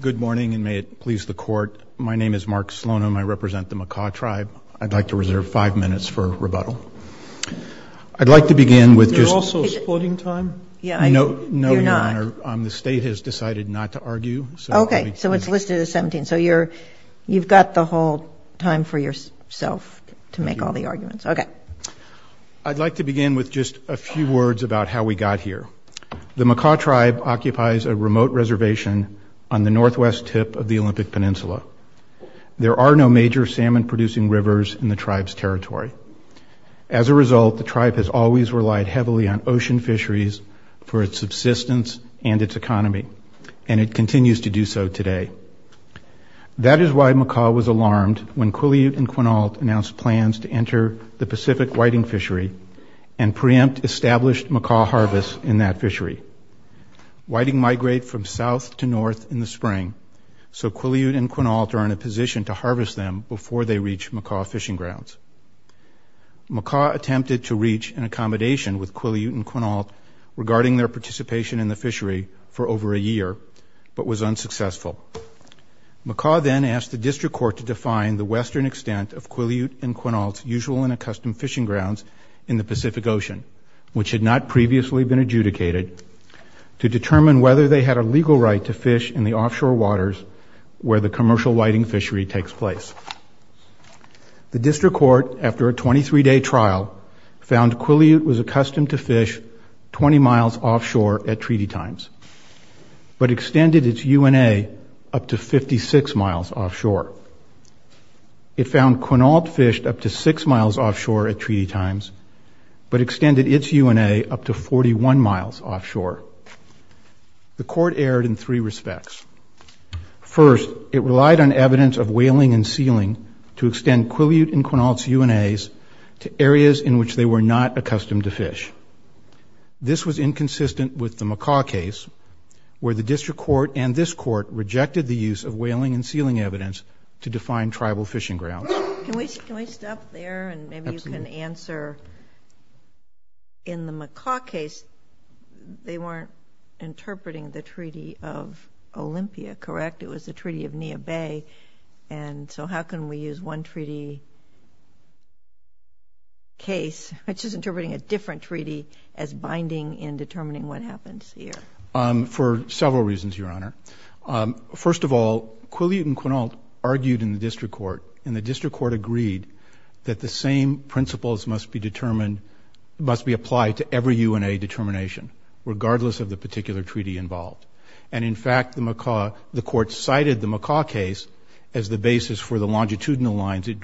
Good morning, and may it please the Court. My name is Mark Slonim. I represent the Makah Tribe. I'd like to reserve five minutes for rebuttal. I'd like to begin with just... Are you also splitting time? No, Your Honor. The State has decided not to argue. Okay, so it's listed as 17. So you've got the whole time for yourself to make all the arguments. Okay. I'd like to begin with just a few words about how we got here. The Makah Tribe occupies a remote reservation on the northwest tip of the Olympic Peninsula. There are no major salmon producing rivers in the tribe's territory. As a result, the tribe has always relied heavily on ocean fisheries for its subsistence and its economy, and it continues to do so today. That is why Makah was alarmed when Quileute and Quinault announced plans to enter the Pacific whiting fishery and preempt established Makah harvest in that fishery. Whiting migrate from south to north in the spring, so Quileute and Quinault are in a position to harvest them before they reach Makah fishing grounds. Makah attempted to reach an accommodation with Quileute and Quinault regarding their participation in the fishery for over a year, but was unsuccessful. Makah then asked the district court to define the western extent of Quileute and Quinault's usual and accustomed fishing grounds in the Pacific Ocean, which had not previously been adjudicated, to determine whether they had a legal right to fish in the offshore waters where the commercial whiting fishery takes place. The district court, after a 23-day trial, found Quileute was accustomed to fish 20 miles offshore at treaty times, but extended its UNA up to 56 miles offshore. It found Quinault fished up to six miles offshore at treaty times, but extended its UNA up to 41 miles offshore. The court erred in three respects. First, it relied on evidence of whaling and sealing to This was inconsistent with the Makah case, where the district court and this court rejected the use of whaling and sealing evidence to define tribal fishing grounds. Can we stop there and maybe you can answer, in the Makah case, they weren't interpreting the Treaty of Olympia, correct? It was the Treaty of binding in determining what happens here. For several reasons, Your Honor. First of all, Quileute and Quinault argued in the district court, and the district court agreed that the same principles must be determined, must be applied to every UNA determination, regardless of the particular treaty involved. And in fact, the court cited the Makah case as the basis for the longitudinal lines it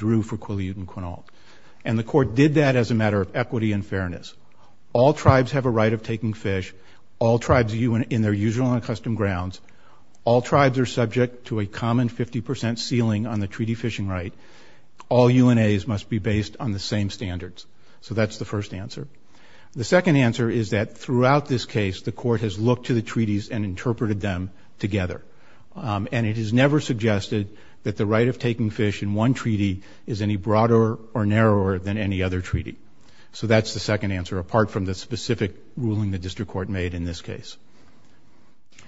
All tribes have a right of taking fish, all tribes in their usual and custom grounds, all tribes are subject to a common 50% sealing on the treaty fishing right. All UNAs must be based on the same standards. So that's the first answer. The second answer is that throughout this case, the court has looked to the treaties and interpreted them together. And it is never suggested that the right of taking fish in one treaty is any broader or narrower than any other treaty. So that's the second answer apart from the specific ruling the district court made in this case.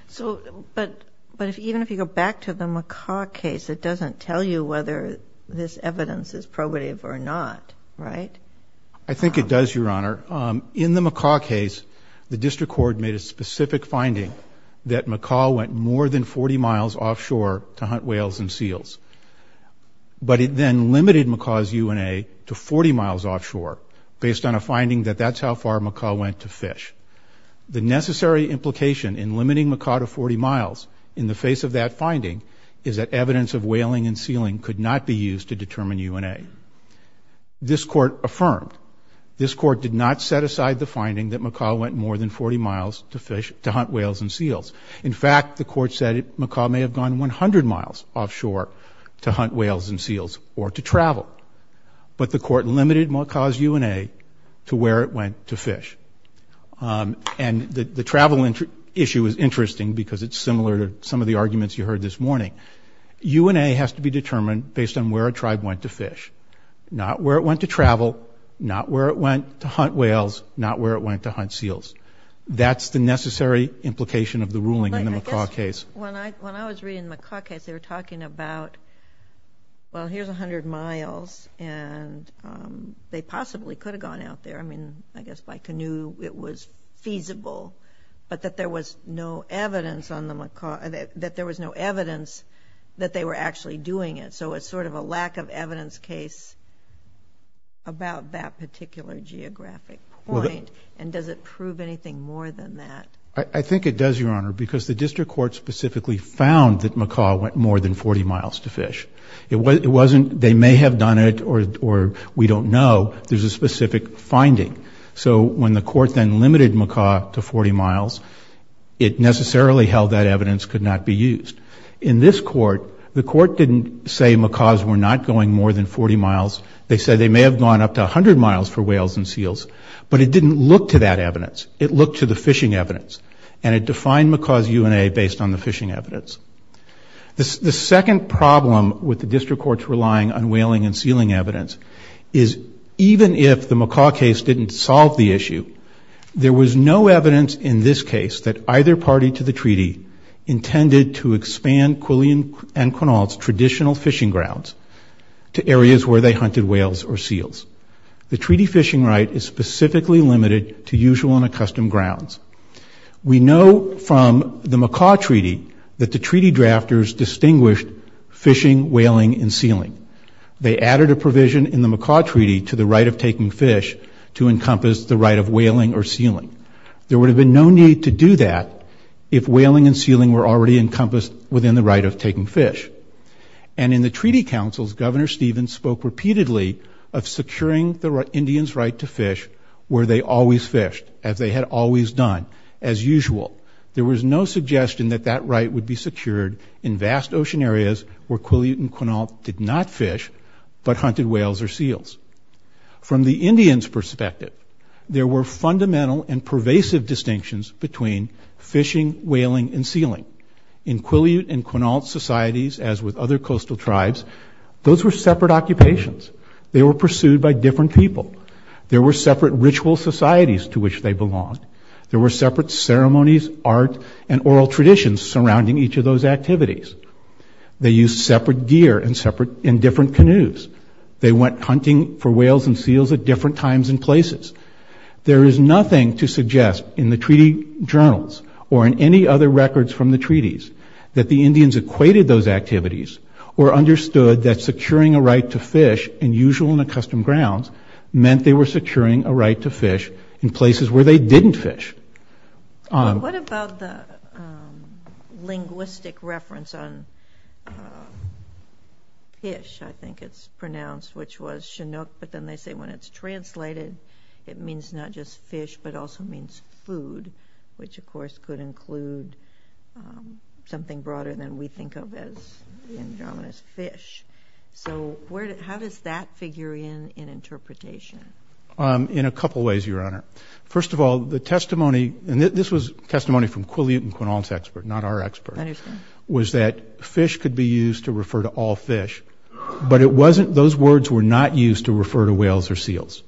So, but, but if even if you go back to the Makah case, it doesn't tell you whether this evidence is probative or not, right? I think it does, Your Honor. In the Makah case, the district court made a specific finding that Makah went more than 40 miles offshore to hunt whales and seals. But it then limited Makah's UNA to 40 miles offshore, based on a finding that that's how far Makah went to fish. The necessary implication in limiting Makah to 40 miles in the face of that finding is that evidence of whaling and sealing could not be used to determine UNA. This court affirmed, this court did not set aside the finding that Makah went more than 40 miles to fish, to hunt whales and seals. In fact, the court said Makah may have gone 100 miles offshore to hunt whales and seals or to limit UNA to where it went to fish. And the travel issue is interesting because it's similar to some of the arguments you heard this morning. UNA has to be determined based on where a tribe went to fish, not where it went to travel, not where it went to hunt whales, not where it went to hunt seals. That's the necessary implication of the ruling in the Makah case. When I, when I was reading the Makah case, they were talking about, well, here's 100 miles and they possibly could have gone out there. I mean, I guess by canoe it was feasible, but that there was no evidence on the Makah, that there was no evidence that they were actually doing it. So it's sort of a lack of evidence case about that particular geographic point. And does it prove anything more than that? I think it does, Your Honor, because the district court specifically found that Makah went more than 40 miles to fish. It wasn't, they may have done it or, or we don't know. There's a specific finding. So when the court then limited Makah to 40 miles, it necessarily held that evidence could not be used. In this court, the court didn't say Makahs were not going more than 40 miles. They said they may have gone up to 100 miles for whales and seals, but it didn't look to that evidence. It looked to the fishing evidence and it defined Makah's UNA based on the fishing evidence. The second problem with the district court's relying on whaling and sealing evidence is even if the Makah case didn't solve the issue, there was no evidence in this case that either party to the treaty intended to expand Quillian and Quinault's traditional fishing grounds to areas where they hunted whales or seals. The treaty fishing right is specifically limited to usual and accustomed grounds. We know from the Makah treaty that the treaty drafters distinguished fishing, whaling, and sealing. They added a provision in the Makah treaty to the right of taking fish to encompass the right of whaling or sealing. There would have been no need to do that if the treaty councils, Governor Stevens spoke repeatedly of securing the Indian's right to fish where they always fished, as they had always done, as usual. There was no suggestion that that right would be secured in vast ocean areas where Quillian and Quinault did not fish, but hunted whales or seals. From the Indian's perspective, there were fundamental and pervasive distinctions between fishing, whaling, and sealing. In Quillian and Quinault societies, as with other coastal tribes, those were separate occupations. They were pursued by different people. There were separate ritual societies to which they belonged. There were separate ceremonies, art, and oral traditions surrounding each of those activities. They used separate gear in different canoes. They went hunting for whales and seals at different times and places. There is nothing to suggest in the treaty journals, or in any other records from the treaties, that the Indians equated those activities or understood that securing a right to fish in usual and accustomed grounds meant they were securing a right to fish in places where they didn't fish. What about the linguistic reference on fish? I think it's pronounced, which was Chinook, but then they say when it's translated, it means not just fish, but also means food, which of course could include something broader than we think of as the Andromedas fish. So how does that figure in in interpretation? In a couple of ways, Your Honor. First of all, the testimony, and this was testimony from Quillian and Quinault's expert, not our expert, was that fish could be used to refer to all fish. But it wasn't, those words were not used to refer to whales or seals.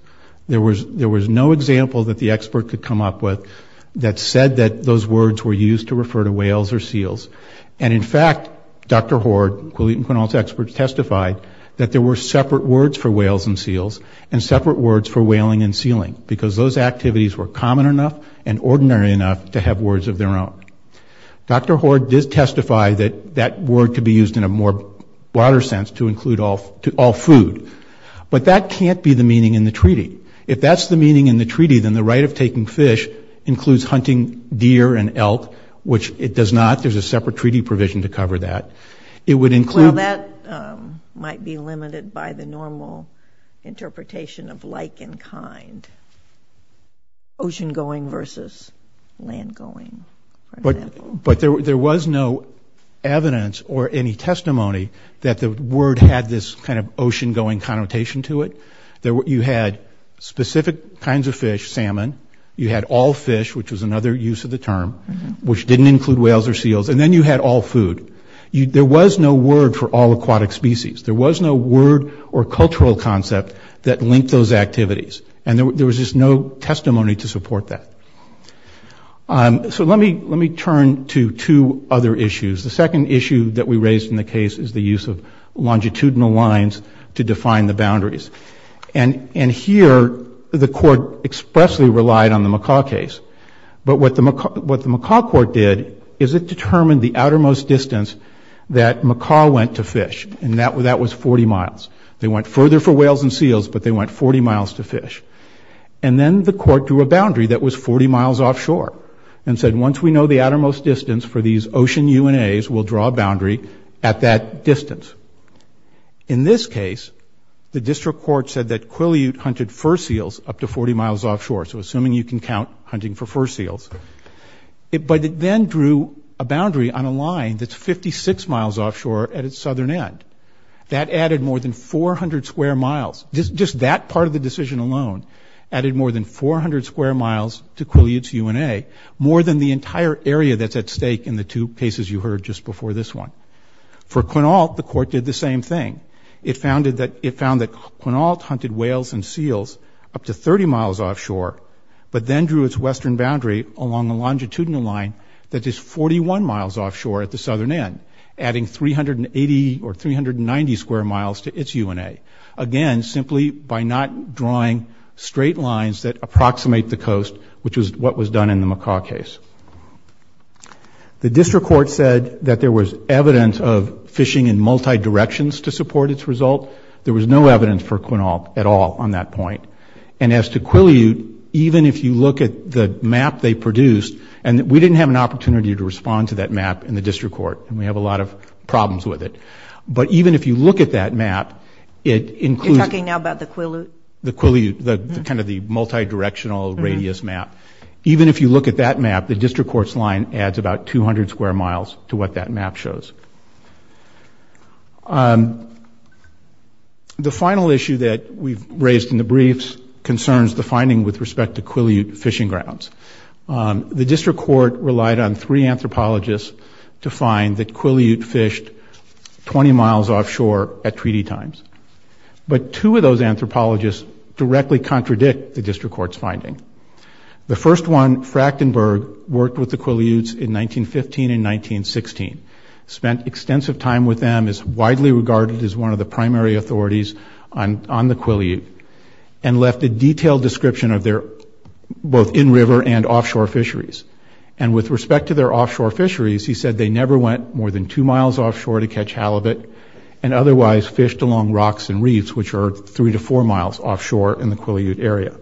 There was no example that the expert could come up with that said that those words were used to refer to whales or seals. And in fact, Dr. Hoard, Quillian and Quinault's experts testified that there were separate words for whales and seals and separate words for whaling and sealing, because those activities were common enough and ordinary enough to have words of their own. Dr. Hoard did testify that that word could be used in a more broader sense to include all food. But that can't be the meaning in the treaty. If that's the meaning in the treaty, then the right of taking fish includes hunting deer and elk, which it does not. There's a separate treaty provision to cover that. It would include... Well, that might be limited by the normal interpretation of like and kind. Ocean-going versus land-going, for example. But there was no evidence or any testimony that the word had this kind of ocean-going connotation to it. You had specific kinds of fish, salmon. You had all fish, which was another use of the term, which didn't include whales or seals. And then you had all food. There was no word for all aquatic species. There was no word or cultural concept that linked those activities. And there was just no testimony to support that. So let me turn to two other issues. The second issue that we raised in the case is the use of longitudinal lines to define the boundaries. And here, the court expressly relied on the McCaw case. But what the McCaw court did is it determined the outermost distance that McCaw went to fish, and that was 40 miles. They went further for whales and seals, but they went 40 miles to fish. And then the court drew a boundary that was 40 miles offshore and said, once we know the outermost distance for these ocean UNAs, we'll draw a boundary at that distance. In this case, the district court said that Quileute hunted fur seals up to 40 miles offshore. So assuming you can count hunting for fur seals. But it then drew a boundary on a line that's 56 miles offshore at its southern end. That added more than 400 square miles. Just that part of the decision alone added more than 400 square miles to Quileute's UNA, more than the entire area that's at stake in the two cases you heard just before this one. For Quinault, the court did the same thing. It found that Quinault hunted whales and seals up to 30 miles offshore, but then drew its western boundary along a longitudinal line that is 41 miles offshore at the southern end, adding 380 or 390 square miles to its UNA. Again, simply by not drawing straight lines that approximate the coast, which is what was done in the McCaw case. The district court said that there was evidence of fishing in multi-directions to support its result. There was no evidence for Quinault at all on that point. And as to Quileute, even if you look at the map they produced, and we didn't have an opportunity to respond to that map in the district court, and we have a lot of problems with it. But even if you look at that map, it includes... You're talking now about the Quileute? The Quileute, kind of the multi-directional radius map. Even if you look at that map, the district court's line adds about 200 square miles to what that map shows. The final issue that we've raised in the briefs concerns the finding with respect to Quileute fishing grounds. The district court relied on three anthropologists to find that Quileute fished 20 miles offshore at treaty times. But two of those anthropologists directly contradict the district court's finding. The first one, Frachtenberg, worked with the Quileutes in 1915 and 1916. Spent extensive time with them, is widely regarded as one of the primary authorities on the Quileute, and left a detailed description of their both in-river and offshore fisheries. And with respect to their offshore fisheries, he said they never went more than two miles offshore to catch halibut, and otherwise fished along rocks and reefs, which are three to four miles offshore in the Quileute area.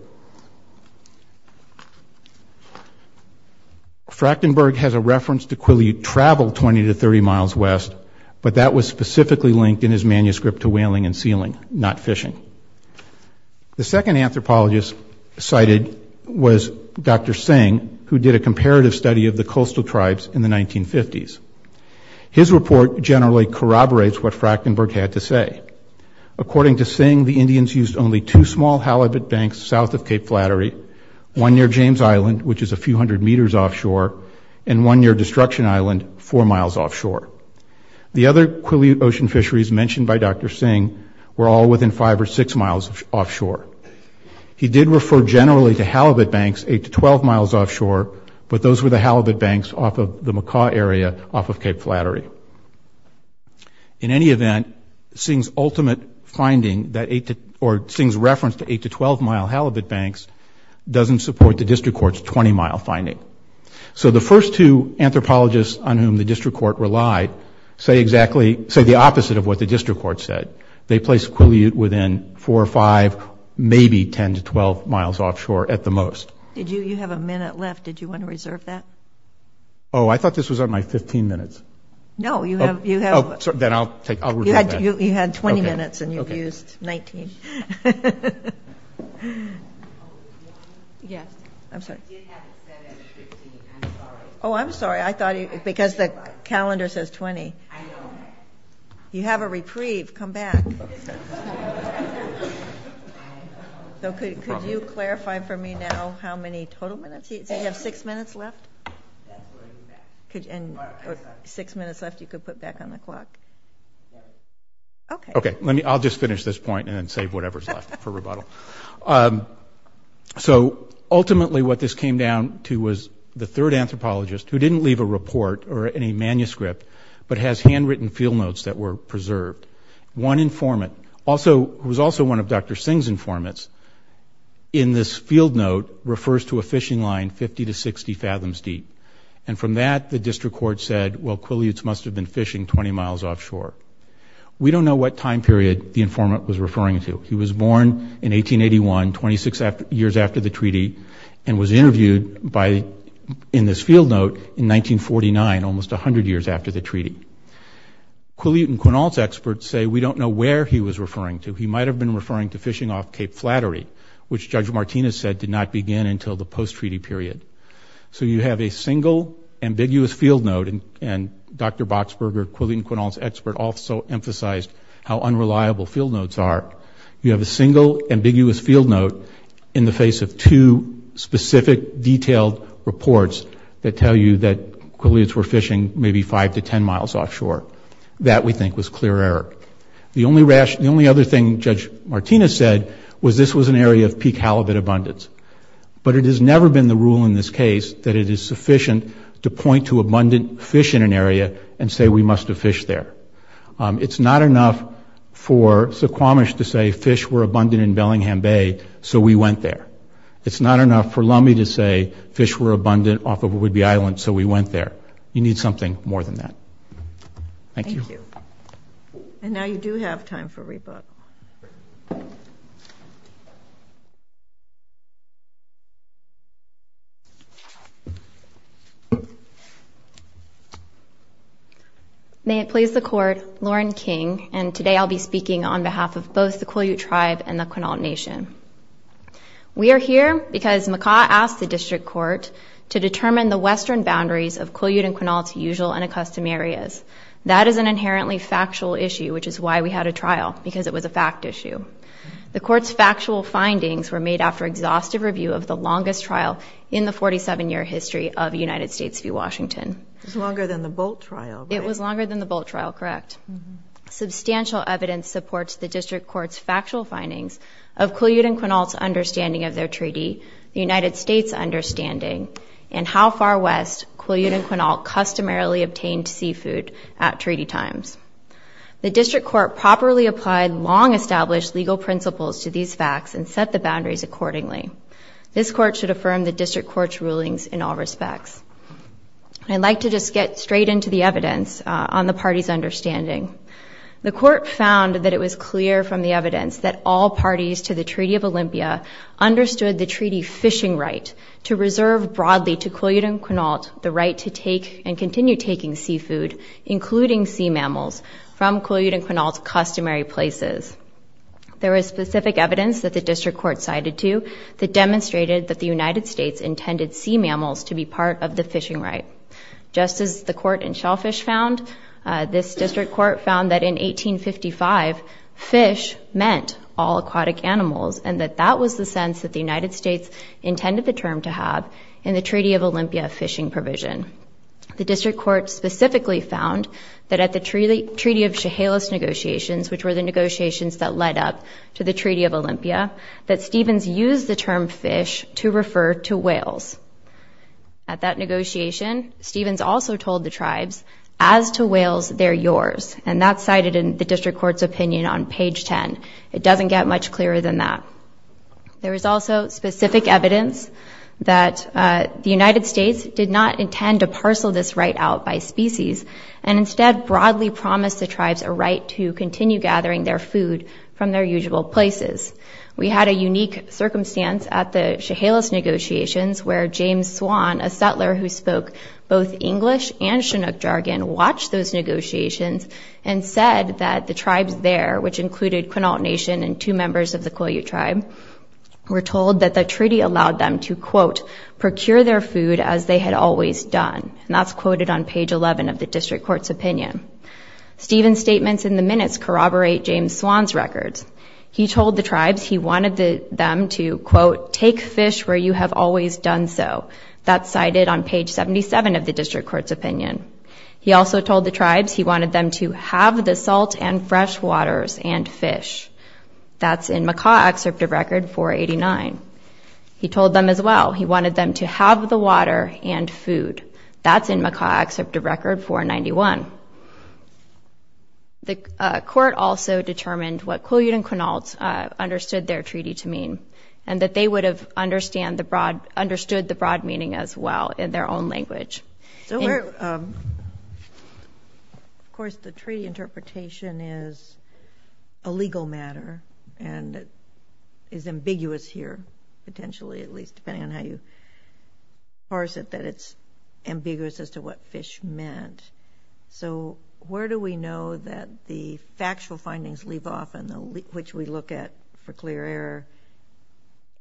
Frachtenberg has a reference to Quileute travel 20 to 30 miles west, but that was specifically linked in his manuscript to whaling and sealing, not fishing. The second anthropologist cited was Dr. Singh, who did a comparative study of the coastal tribes in the 1950s. His report generally corroborates what Frachtenberg had to say. According to Singh, the Indians used only two small halibut banks south of Cape Flattery, one near James Island, which is a few hundred meters offshore, and one near Destruction Island, four miles offshore. The other Quileute ocean fisheries mentioned by Dr. Singh were all within five or six miles offshore. He did refer generally to halibut banks eight to 12 miles offshore, but those were the halibut banks off of the Macaw area off of Cape Flattery. In any event, Singh's ultimate finding, or Singh's reference to eight to 12-mile halibut banks, doesn't support the district court's 20-mile finding. So the first two anthropologists on whom the district court relied say the opposite of what the district court said. They placed Quileute within four or five, maybe 10 to 12 miles offshore at the most. Did you have a minute left? Did you want to reserve that? Oh, I thought this was on my 15 minutes. No, you have- Oh, then I'll take- You had 20 minutes, and you've used 19. Yes. I'm sorry. Oh, I'm sorry. I thought you- because the calendar says 20. You have a reprieve. Come back. Okay. So could you clarify for me now how many total minutes? So you have six minutes left? And six minutes left you could put back on the clock. Okay. Okay. I'll just finish this point and then save whatever's left for rebuttal. So ultimately what this came down to was the third anthropologist, who didn't leave a report or any manuscript, but has handwritten field notes that were preserved. One informant, who was also one of Dr. Singh's informants, in this field note refers to a fishing line 50 to 60 fathoms deep. And from that, the district court said, well, Quileute must have been fishing 20 miles offshore. We don't know what time period the informant was referring to. He was born in 1881, 26 years after the treaty, and was interviewed in this field note in 1949, almost 100 years after the treaty. Quileute and Quinault's experts say we don't know where he was referring to. He might have been referring to fishing off Cape Flattery, which Judge Martinez said did not begin until the post-treaty period. So you have a single ambiguous field note, and Dr. Boxberger, Quileute and Quinault's expert, also emphasized how unreliable field notes are. You have a single ambiguous field note in the face of two specific, detailed reports that tell you that Quileutes were fishing maybe 5 to 10 miles offshore. That, we think, was clear error. The only other thing Judge Martinez said was this was an area of peak halibut abundance. But it has never been the rule in this case that it is sufficient to point to abundant fish in an area and say we must have fished there. It's not enough for Suquamish to say fish were abundant in Bellingham Bay, so we went there. It's not enough for Lummi to say fish were abundant off of Whidbey Island, so we went there. You need something more than that. Thank you. Thank you. And now you do have time for rebuttal. May it please the Court, Lauren King, and today I'll be speaking on behalf of both the Quileute Tribe and the Quinault Nation. We are here because McCaw asked the District Court to determine the western boundaries of Quileute and Quinault's usual and accustomed areas. That is an inherently factual issue, which is why we had a trial, because it was a fact issue. The Court's factual findings were made after exhaustive review of the longest trial in the 47-year history of United States v. Washington. It was longer than the Bolt trial, right? It was longer than the Bolt trial, correct. Substantial evidence supports the District Court's factual findings of Quileute and Quinault's understanding of their treaty, the United States' understanding, and how far west Quileute and Quinault customarily obtained seafood at treaty times. The District Court properly applied long-established legal principles to these facts and set the boundaries accordingly. This Court should affirm the District Court's rulings in all respects. I'd like to just get straight into the evidence on the party's understanding. The Court found that it was clear from the evidence that all parties to the Treaty of Olympia understood the treaty fishing right to reserve broadly to Quileute and Quinault the right to take and continue taking seafood, including sea mammals, from Quileute and Quinault's customary places. There was specific evidence that the District Court sided to that demonstrated that the United States intended sea mammals to be part of the fishing right. Just as the Court in Shellfish found, this District Court found that in 1855 fish meant all aquatic animals and that that was the sense that the United States intended the term to have in the Treaty of Olympia fishing provision. The District Court specifically found that at the Treaty of Chehalis negotiations, which were the negotiations that led up to the Treaty of Olympia, that Stevens used the term fish to refer to whales. At that negotiation, Stevens also told the tribes, as to whales, they're yours, and that's cited in the District Court's opinion on page 10. It doesn't get much clearer than that. There is also specific evidence that the United States did not intend to parcel this right out by species and instead broadly promised the tribes a right to continue gathering their food from their usual places. We had a unique circumstance at the Chehalis negotiations where James Swan, a settler who spoke both English and Chinook jargon, watched those negotiations and said that the tribes there, which included Quinault Nation and two members of the Quileute tribe, were told that the treaty allowed them to, quote, procure their food as they had always done, and that's quoted on page 11 of the District Court's opinion. Stevens' statements in the minutes corroborate James Swan's records. He told the tribes he wanted them to, quote, take fish where you have always done so. That's cited on page 77 of the District Court's opinion. He also told the tribes he wanted them to have the salt and fresh waters and fish. That's in Macaw Excerptive Record 489. He told them as well he wanted them to have the water and food. That's in Macaw Excerptive Record 491. The court also determined what Quileute and Quinault understood their treaty to mean and that they would have understood the broad meaning as well in their own language. Of course, the treaty interpretation is a legal matter and is ambiguous here potentially, at least depending on how you parse it, that it's ambiguous as to what fish meant. So where do we know that the factual findings leave off and which we look at for clear error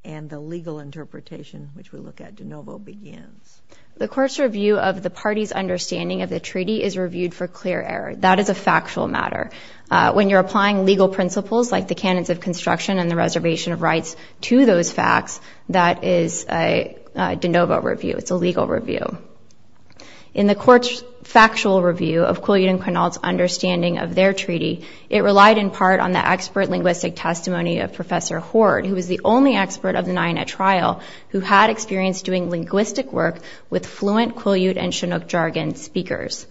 and the legal interpretation which we look at de novo begins? The court's review of the party's understanding of the treaty is reviewed for clear error. That is a factual matter. When you're applying legal principles like the canons of construction and the reservation of rights to those facts, that is a de novo review. It's a legal review. In the court's factual review of Quileute and Quinault's understanding of their treaty, it relied in part on the expert linguistic testimony of Professor Hoard who was the only expert of the nine at trial who had experience doing linguistic work with fluent Quileute and Chinook jargon speakers.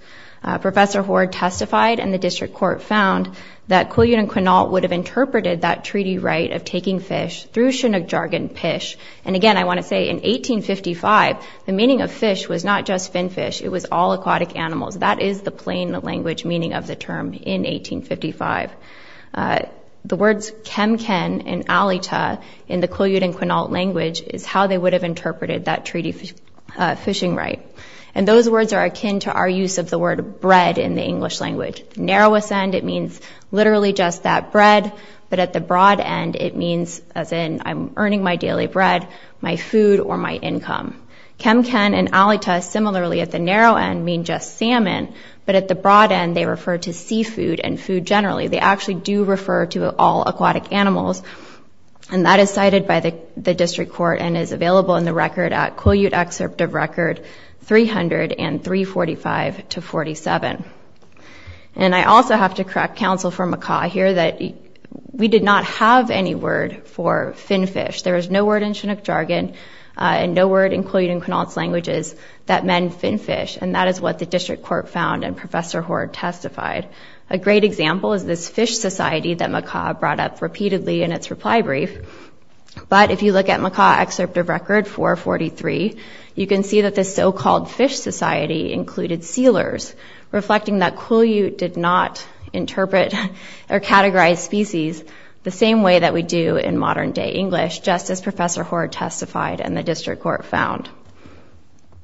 Professor Hoard testified and the district court found that Quileute and Quinault would have interpreted that treaty right of taking fish through Chinook jargon pish. And again, I want to say in 1855, the meaning of fish was not just fin fish. It was all aquatic animals. That is the plain language meaning of the term in 1855. The words kemken and alita in the Quileute and Quinault language is how they would have interpreted that treaty fishing right. And those words are akin to our use of the word bread in the English language. Narrowest end, it means literally just that, bread, but at the broad end it means as in I'm earning my daily bread, my food, or my income. Kemken and alita similarly at the narrow end mean just salmon, but at the broad end they refer to seafood and food generally. They actually do refer to all aquatic animals, and that is cited by the district court and is available in the record at Quileute excerpt of record 300 and 345 to 47. And I also have to correct counsel for Macaw here that we did not have any word for fin fish. There was no word in Chinook jargon and no word in Quileute and Quinault languages that meant fin fish, and that is what the district court found and Professor Hoard testified. A great example is this fish society that Macaw brought up repeatedly in its reply brief. But if you look at Macaw excerpt of record 443, you can see that this so-called fish society included sealers, reflecting that Quileute did not interpret or categorize species the same way that we do in modern-day English, just as Professor Hoard testified and the district court found.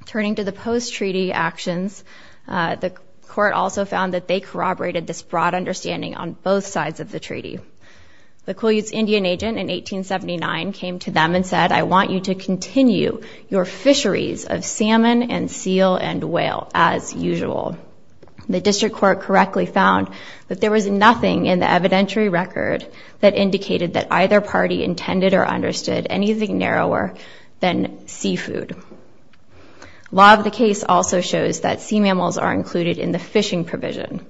Turning to the post-treaty actions, the court also found that they corroborated this broad understanding on both sides of the treaty. The Quileute's Indian agent in 1879 came to them and said, I want you to continue your fisheries of salmon and seal and whale as usual. The district court correctly found that there was nothing in the evidentiary record that indicated that either party intended or understood anything narrower than seafood. Law of the case also shows that sea mammals are included in the fishing provision.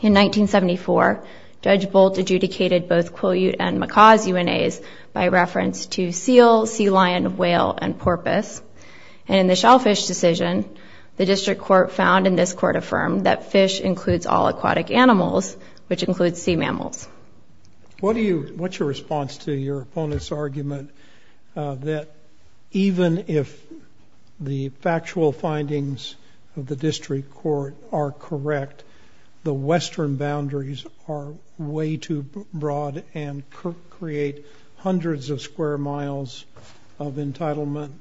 In 1974, Judge Bolt adjudicated both Quileute and Macaw's UNAs by reference to seal, sea lion, whale, and porpoise. And in the shellfish decision, the district court found, and this court affirmed, that fish includes all aquatic animals, which includes sea mammals. What's your response to your opponent's argument that even if the factual findings of the district court are correct, the western boundaries are way too broad and create hundreds of square miles of entitlement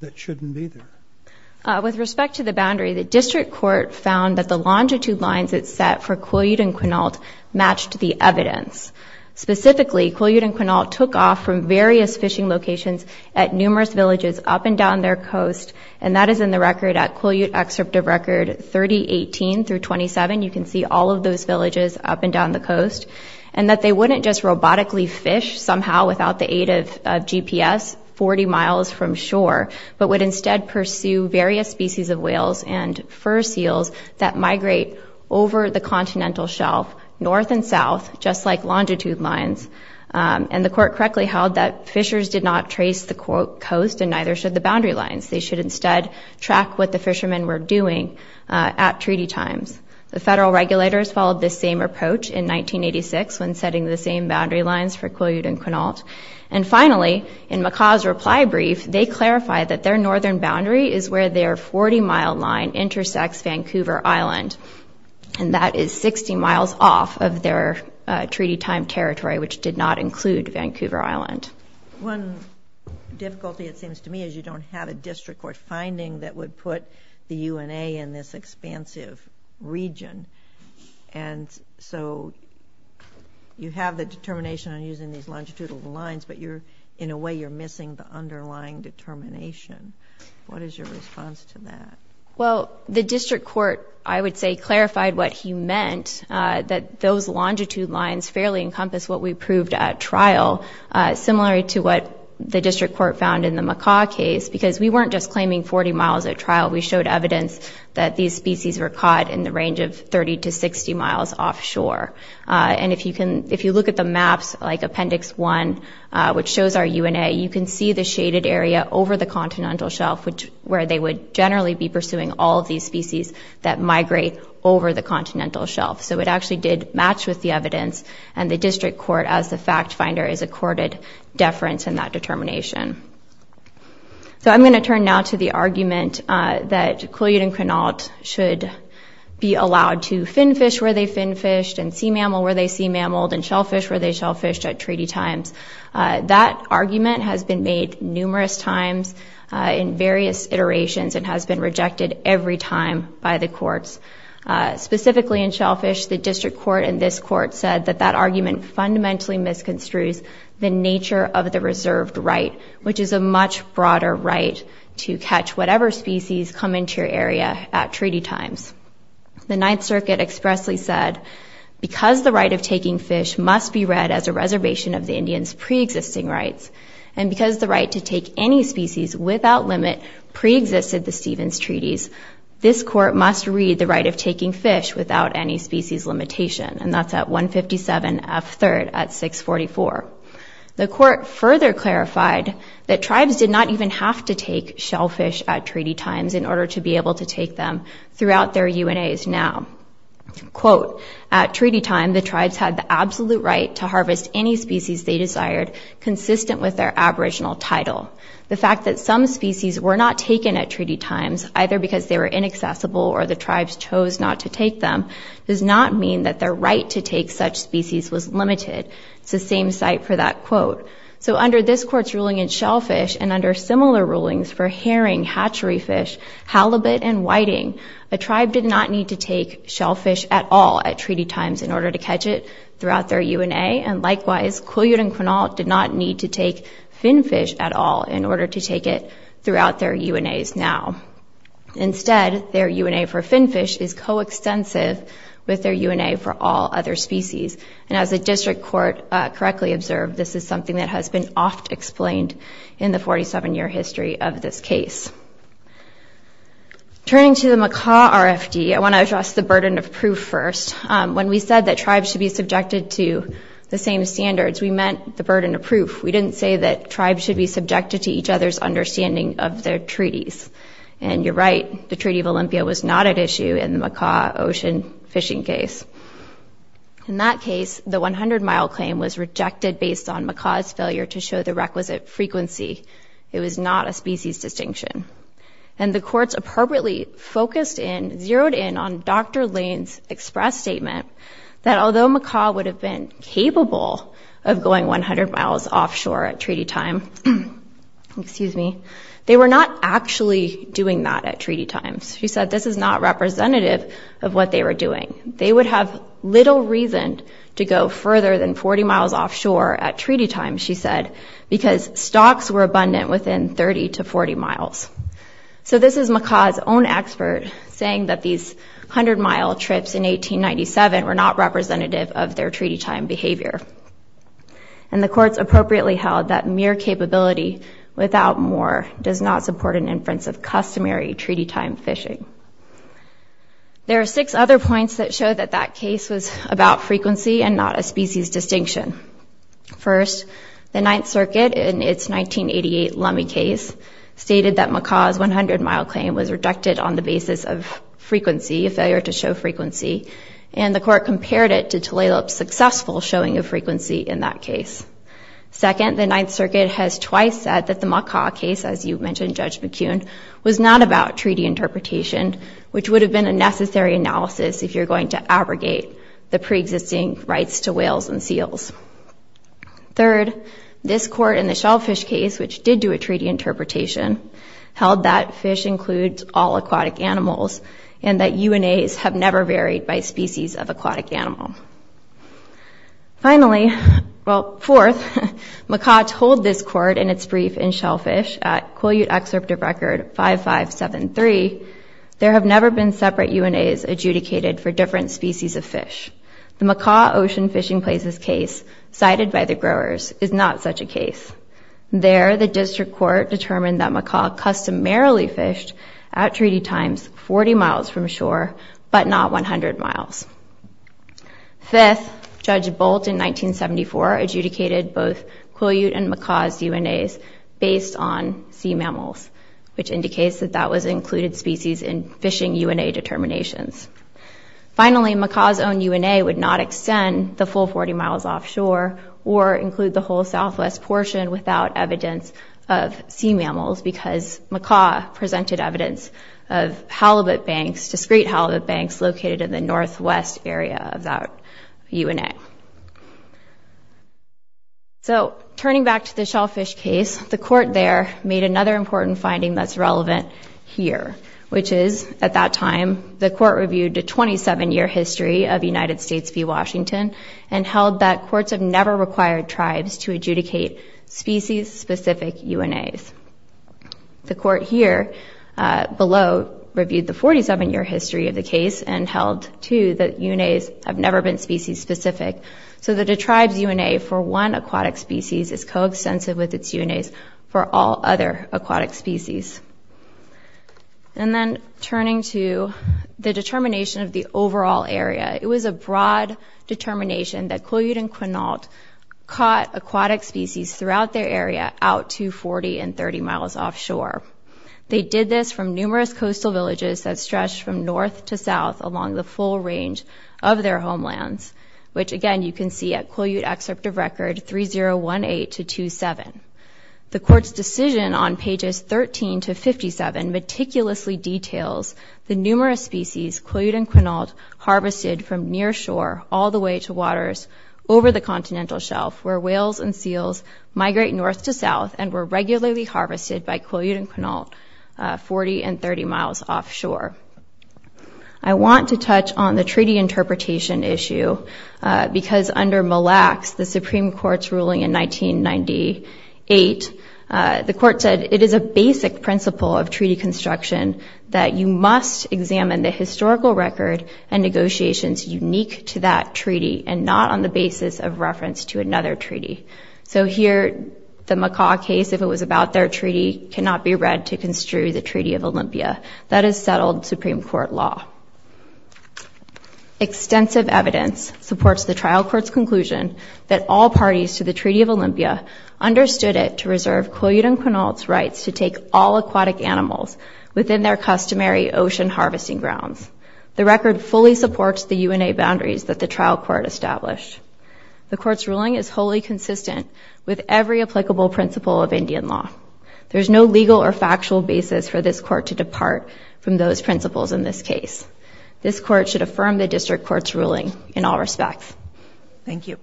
that shouldn't be there? With respect to the boundary, the district court found that the longitude lines it set for Quileute and Quinault matched the evidence. Specifically, Quileute and Quinault took off from various fishing locations at numerous villages up and down their coast, and that is in the record at Quileute Excerptive Record 3018-27. You can see all of those villages up and down the coast. And that they wouldn't just robotically fish somehow without the aid of GPS 40 miles from shore, but would instead pursue various species of whales and fur seals that migrate over the continental shelf north and south, just like longitude lines. And the court correctly held that fishers did not trace the coast and neither should the boundary lines. They should instead track what the fishermen were doing at treaty times. The federal regulators followed this same approach in 1986 when setting the same boundary lines for Quileute and Quinault. And finally, in McCaw's reply brief, they clarified that their northern boundary is where their 40-mile line intersects Vancouver Island, and that is 60 miles off of their treaty-time territory, which did not include Vancouver Island. One difficulty, it seems to me, is you don't have a district court finding that would put the UNA in this expansive region. And so you have the determination on using these longitudinal lines, but in a way you're missing the underlying determination. What is your response to that? Well, the district court, I would say, clarified what he meant, that those longitude lines fairly encompass what we proved at trial. Similar to what the district court found in the McCaw case, because we weren't just claiming 40 miles at trial. We showed evidence that these species were caught in the range of 30 to 60 miles offshore. And if you look at the maps, like Appendix 1, which shows our UNA, you can see the shaded area over the continental shelf where they would generally be pursuing all of these species So it actually did match with the evidence, and the district court, as the fact finder, is accorded deference in that determination. So I'm going to turn now to the argument that Kool-Aid and Quinault should be allowed to finfish where they finfished, and sea mammal where they sea-mammaled, and shellfish where they shellfished at treaty times. That argument has been made numerous times in various iterations and has been rejected every time by the courts. Specifically in shellfish, the district court and this court said that that argument fundamentally misconstrues the nature of the reserved right, which is a much broader right to catch whatever species come into your area at treaty times. The Ninth Circuit expressly said, because the right of taking fish must be read as a reservation of the Indian's pre-existing rights, and because the right to take any species without limit pre-existed the Stevens treaties, this court must read the right of taking fish without any species limitation. And that's at 157F3rd at 644. The court further clarified that tribes did not even have to take shellfish at treaty times in order to be able to take them throughout their UNAs now. Quote, at treaty time, the tribes had the absolute right to harvest any species they desired, consistent with their aboriginal title. The fact that some species were not taken at treaty times, either because they were inaccessible or the tribes chose not to take them, does not mean that their right to take such species was limited. It's the same site for that quote. So under this court's ruling in shellfish, and under similar rulings for herring, hatchery fish, halibut, and whiting, a tribe did not need to take shellfish at all at treaty times in order to catch it throughout their UNA, and likewise, Quileute and Quinault did not need to take finfish at all in order to take it throughout their UNAs now. Instead, their UNA for finfish is coextensive with their UNA for all other species. And as the district court correctly observed, this is something that has been often explained in the 47-year history of this case. Turning to the Makah RFD, I want to address the burden of proof first. When we said that tribes should be subjected to the same standards, we meant the burden of proof. We didn't say that tribes should be subjected to each other's understanding of their treaties. And you're right, the Treaty of Olympia was not at issue in the Makah ocean fishing case. In that case, the 100-mile claim was rejected based on Makah's failure to show the requisite frequency. It was not a species distinction. And the courts appropriately focused in, zeroed in on Dr. Lane's express statement that although Makah would have been capable of going 100 miles offshore at treaty time, excuse me, they were not actually doing that at treaty times. She said this is not representative of what they were doing. They would have little reason to go further than 40 miles offshore at treaty time, she said, because stocks were abundant within 30 to 40 miles. So this is Makah's own expert saying that these 100-mile trips in 1897 were not representative of their treaty time behavior. And the courts appropriately held that mere capability without more does not support an inference of customary treaty time fishing. There are six other points that show that that case was about frequency and not a species distinction. First, the Ninth Circuit in its 1988 Lummi case stated that Makah's 100-mile claim was rejected on the basis of frequency, a failure to show frequency, and the court compared it to Tulalip's successful showing of frequency in that case. Second, the Ninth Circuit has twice said that the Makah case, as you mentioned, Judge McKeown, was not about treaty interpretation, which would have been a necessary analysis if you're going to abrogate the preexisting rights to whales and seals. Third, this court in the Shellfish case, which did do a treaty interpretation, held that fish includes all aquatic animals and that UNAs have never varied by species of aquatic animal. Finally, well, fourth, Makah told this court in its brief in Shellfish at Quileute Excerptive Record 5573, there have never been separate UNAs adjudicated for different species of fish. The Makah Ocean Fishing Places case, cited by the growers, is not such a case. There, the district court determined that Makah customarily fished at treaty times 40 miles from shore, but not 100 miles. Fifth, Judge Bolt in 1974 adjudicated both Quileute and Makah's UNAs based on sea mammals, which indicates that that was included species in fishing UNA determinations. Finally, Makah's own UNA would not extend the full 40 miles offshore or include the whole southwest portion without evidence of sea mammals because Makah presented evidence of halibut banks, discrete halibut banks, located in the northwest area of that UNA. So, turning back to the Shellfish case, the court there made another important finding that's relevant here, which is, at that time, the court reviewed a 27-year history of United States v. Washington and held that courts have never required tribes to adjudicate species-specific UNAs. The court here, below, reviewed the 47-year history of the case and held, too, that UNAs have never been species-specific. So that a tribe's UNA for one aquatic species is coextensive with its UNAs for all other aquatic species. And then, turning to the determination of the overall area, it was a broad determination that Quileute and Quinault caught aquatic species throughout their area out to 40 and 30 miles offshore. They did this from numerous coastal villages that stretched from north to south along the full range of their homelands, which, again, you can see at Quileute excerpt of record 3018-27. The court's decision on pages 13-57 meticulously details the numerous species Quileute and Quinault harvested from near shore all the way to waters over the continental shelf where whales and seals migrate north to south and were regularly harvested by Quileute and Quinault 40 and 30 miles offshore. I want to touch on the treaty interpretation issue because under Mille Lacs, the Supreme Court's ruling in 1998, the court said, it is a basic principle of treaty construction that you must examine the historical record and negotiations unique to that treaty and not on the basis of reference to another treaty. So here, the Macaw case, if it was about their treaty, cannot be read to construe the Treaty of Olympia. That is settled Supreme Court law. Extensive evidence supports the trial court's conclusion that all parties to the Treaty of Olympia understood it to reserve Quileute and Quinault's rights to take all aquatic animals within their customary ocean harvesting grounds. The record fully supports the UNA boundaries that the trial court established. The court's ruling is wholly consistent with every applicable principle of Indian law. There is no legal or factual basis for this court to depart from those principles in this case. This court should affirm the district court's ruling in all respects. Thank you.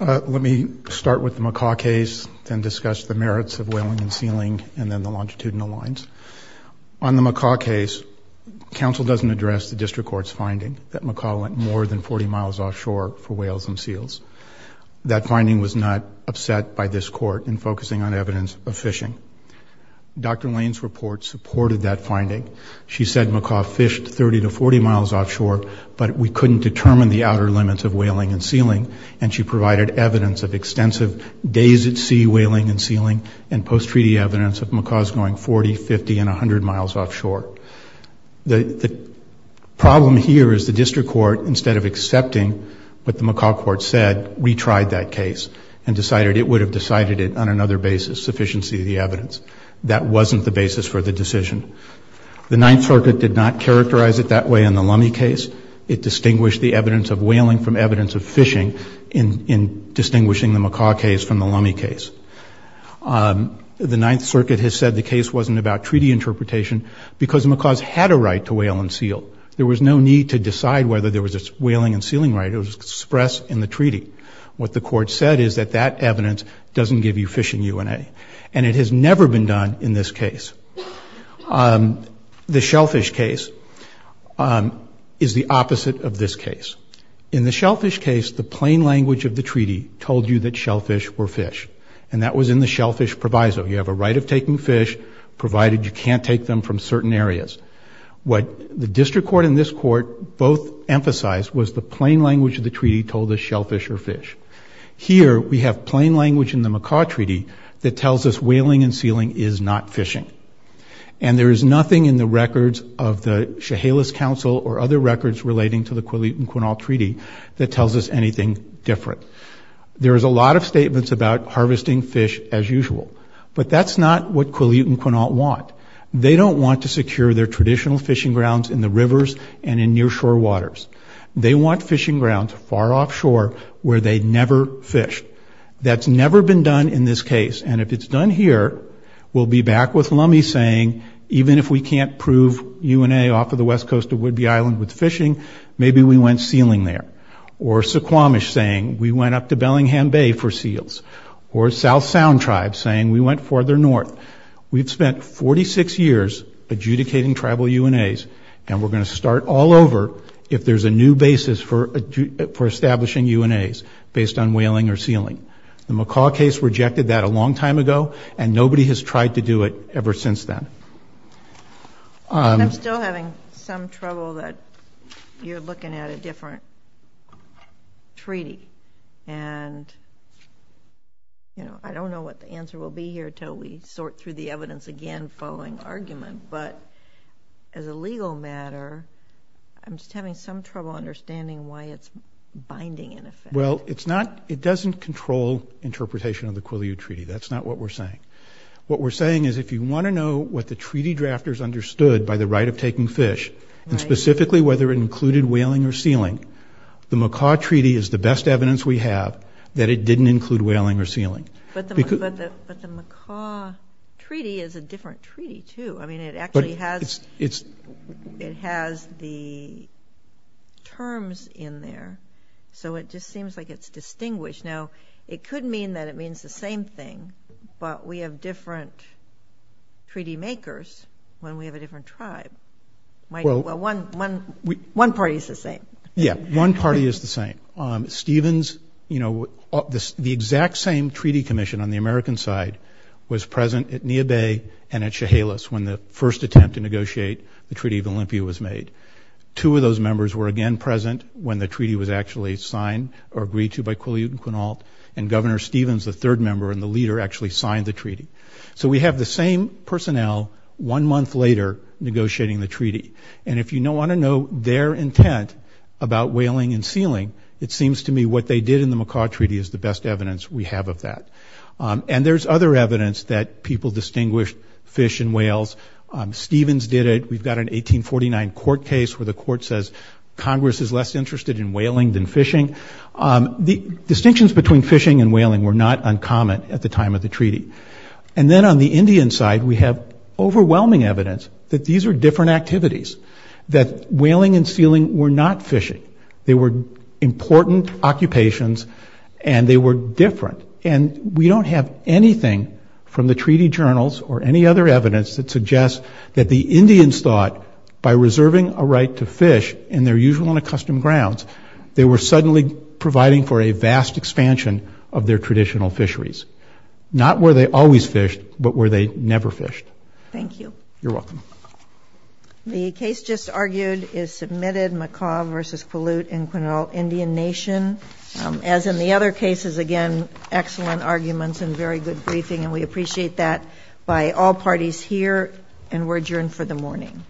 Let me start with the Macaw case and discuss the merits of whaling and sealing and then the longitudinal lines. On the Macaw case, counsel doesn't address the district court's finding that Macaw went more than 40 miles offshore for whales and seals. That finding was not upset by this court in focusing on evidence of fishing. Dr. Lane's report supported that finding. She said Macaw fished 30 to 40 miles offshore, but we couldn't determine the outer limits of whaling and sealing, and she provided evidence of extensive days-at-sea whaling and sealing and post-treaty evidence of Macaws going 40, 50, and 100 miles offshore. The problem here is the district court, instead of accepting what the Macaw court said, retried that case and decided it would have decided it on another basis, sufficiency of the evidence. That wasn't the basis for the decision. The Ninth Circuit did not characterize it that way in the Lummi case. It distinguished the evidence of whaling from evidence of fishing in distinguishing the Macaw case from the Lummi case. The Ninth Circuit has said the case wasn't about treaty interpretation because Macaws had a right to whale and seal. There was no need to decide whether there was a whaling and sealing right. It was expressed in the treaty. What the court said is that that evidence doesn't give you fishing UNA, and it has never been done in this case. The shellfish case is the opposite of this case. In the shellfish case, the plain language of the treaty told you that shellfish were fish, and that was in the shellfish proviso. You have a right of taking fish, provided you can't take them from certain areas. What the district court and this court both emphasized was the plain language of the treaty told us shellfish are fish. Here, we have plain language in the Macaw treaty that tells us whaling and sealing is not fishing, and there is nothing in the records of the Chehalis Council or other records relating to the Quillet and Quinault treaty that tells us anything different. There is a lot of statements about harvesting fish as usual, but that's not what Quillet and Quinault want. They don't want to secure their traditional fishing grounds in the rivers and in near shore waters. They want fishing grounds far offshore where they never fished. That's never been done in this case, and if it's done here, we'll be back with Lummi saying, even if we can't prove UNA off of the west coast of Whidbey Island with fishing, maybe we went sealing there, or Suquamish saying we went up to Bellingham Bay for seals, or South Sound Tribe saying we went farther north. We've spent 46 years adjudicating tribal UNAs, and we're going to start all over if there's a new basis for establishing UNAs based on whaling or sealing. The Macaw case rejected that a long time ago, and nobody has tried to do it ever since then. I'm still having some trouble that you're looking at a different treaty, and I don't know what the answer will be here until we sort through the evidence again following argument, but as a legal matter, I'm just having some trouble understanding why it's binding in effect. Well, it doesn't control interpretation of the Quileute Treaty. That's not what we're saying. What we're saying is if you want to know what the treaty drafters understood by the right of taking fish, and specifically whether it included whaling or sealing, the Macaw Treaty is the best evidence we have that it didn't include whaling or sealing. But the Macaw Treaty is a different treaty, too. I mean, it actually has the terms in there, so it just seems like it's distinguished. Now, it could mean that it means the same thing, but we have different treaty makers when we have a different tribe. Well, one party is the same. Yeah, one party is the same. Stevens, you know, the exact same treaty commission on the American side was present at Neah Bay and at Chehalis when the first attempt to negotiate the Treaty of Olympia was made. Two of those members were again present when the treaty was actually signed or agreed to by Quileute and Quinault, and Governor Stevens, the third member and the leader, actually signed the treaty. So we have the same personnel one month later negotiating the treaty, and if you want to know their intent about whaling and sealing, it seems to me what they did in the Macaw Treaty is the best evidence we have of that. And there's other evidence that people distinguished fish and whales. Stevens did it. We've got an 1849 court case where the court says Congress is less interested in whaling than fishing. The distinctions between fishing and whaling were not uncommon at the time of the treaty. And then on the Indian side, we have overwhelming evidence that these are different activities, that whaling and sealing were not fishing. They were important occupations, and they were different. And we don't have anything from the treaty journals or any other evidence that suggests that the Indians thought by reserving a right to fish in their usual and accustomed grounds, they were suddenly providing for a vast expansion of their traditional fisheries. Not where they always fished, but where they never fished. Thank you. You're welcome. The case just argued is submitted, Macaw v. Palut in Quinault Indian Nation. As in the other cases, again, excellent arguments and very good briefing, and we appreciate that by all parties here, and we're adjourned for the morning. All rise.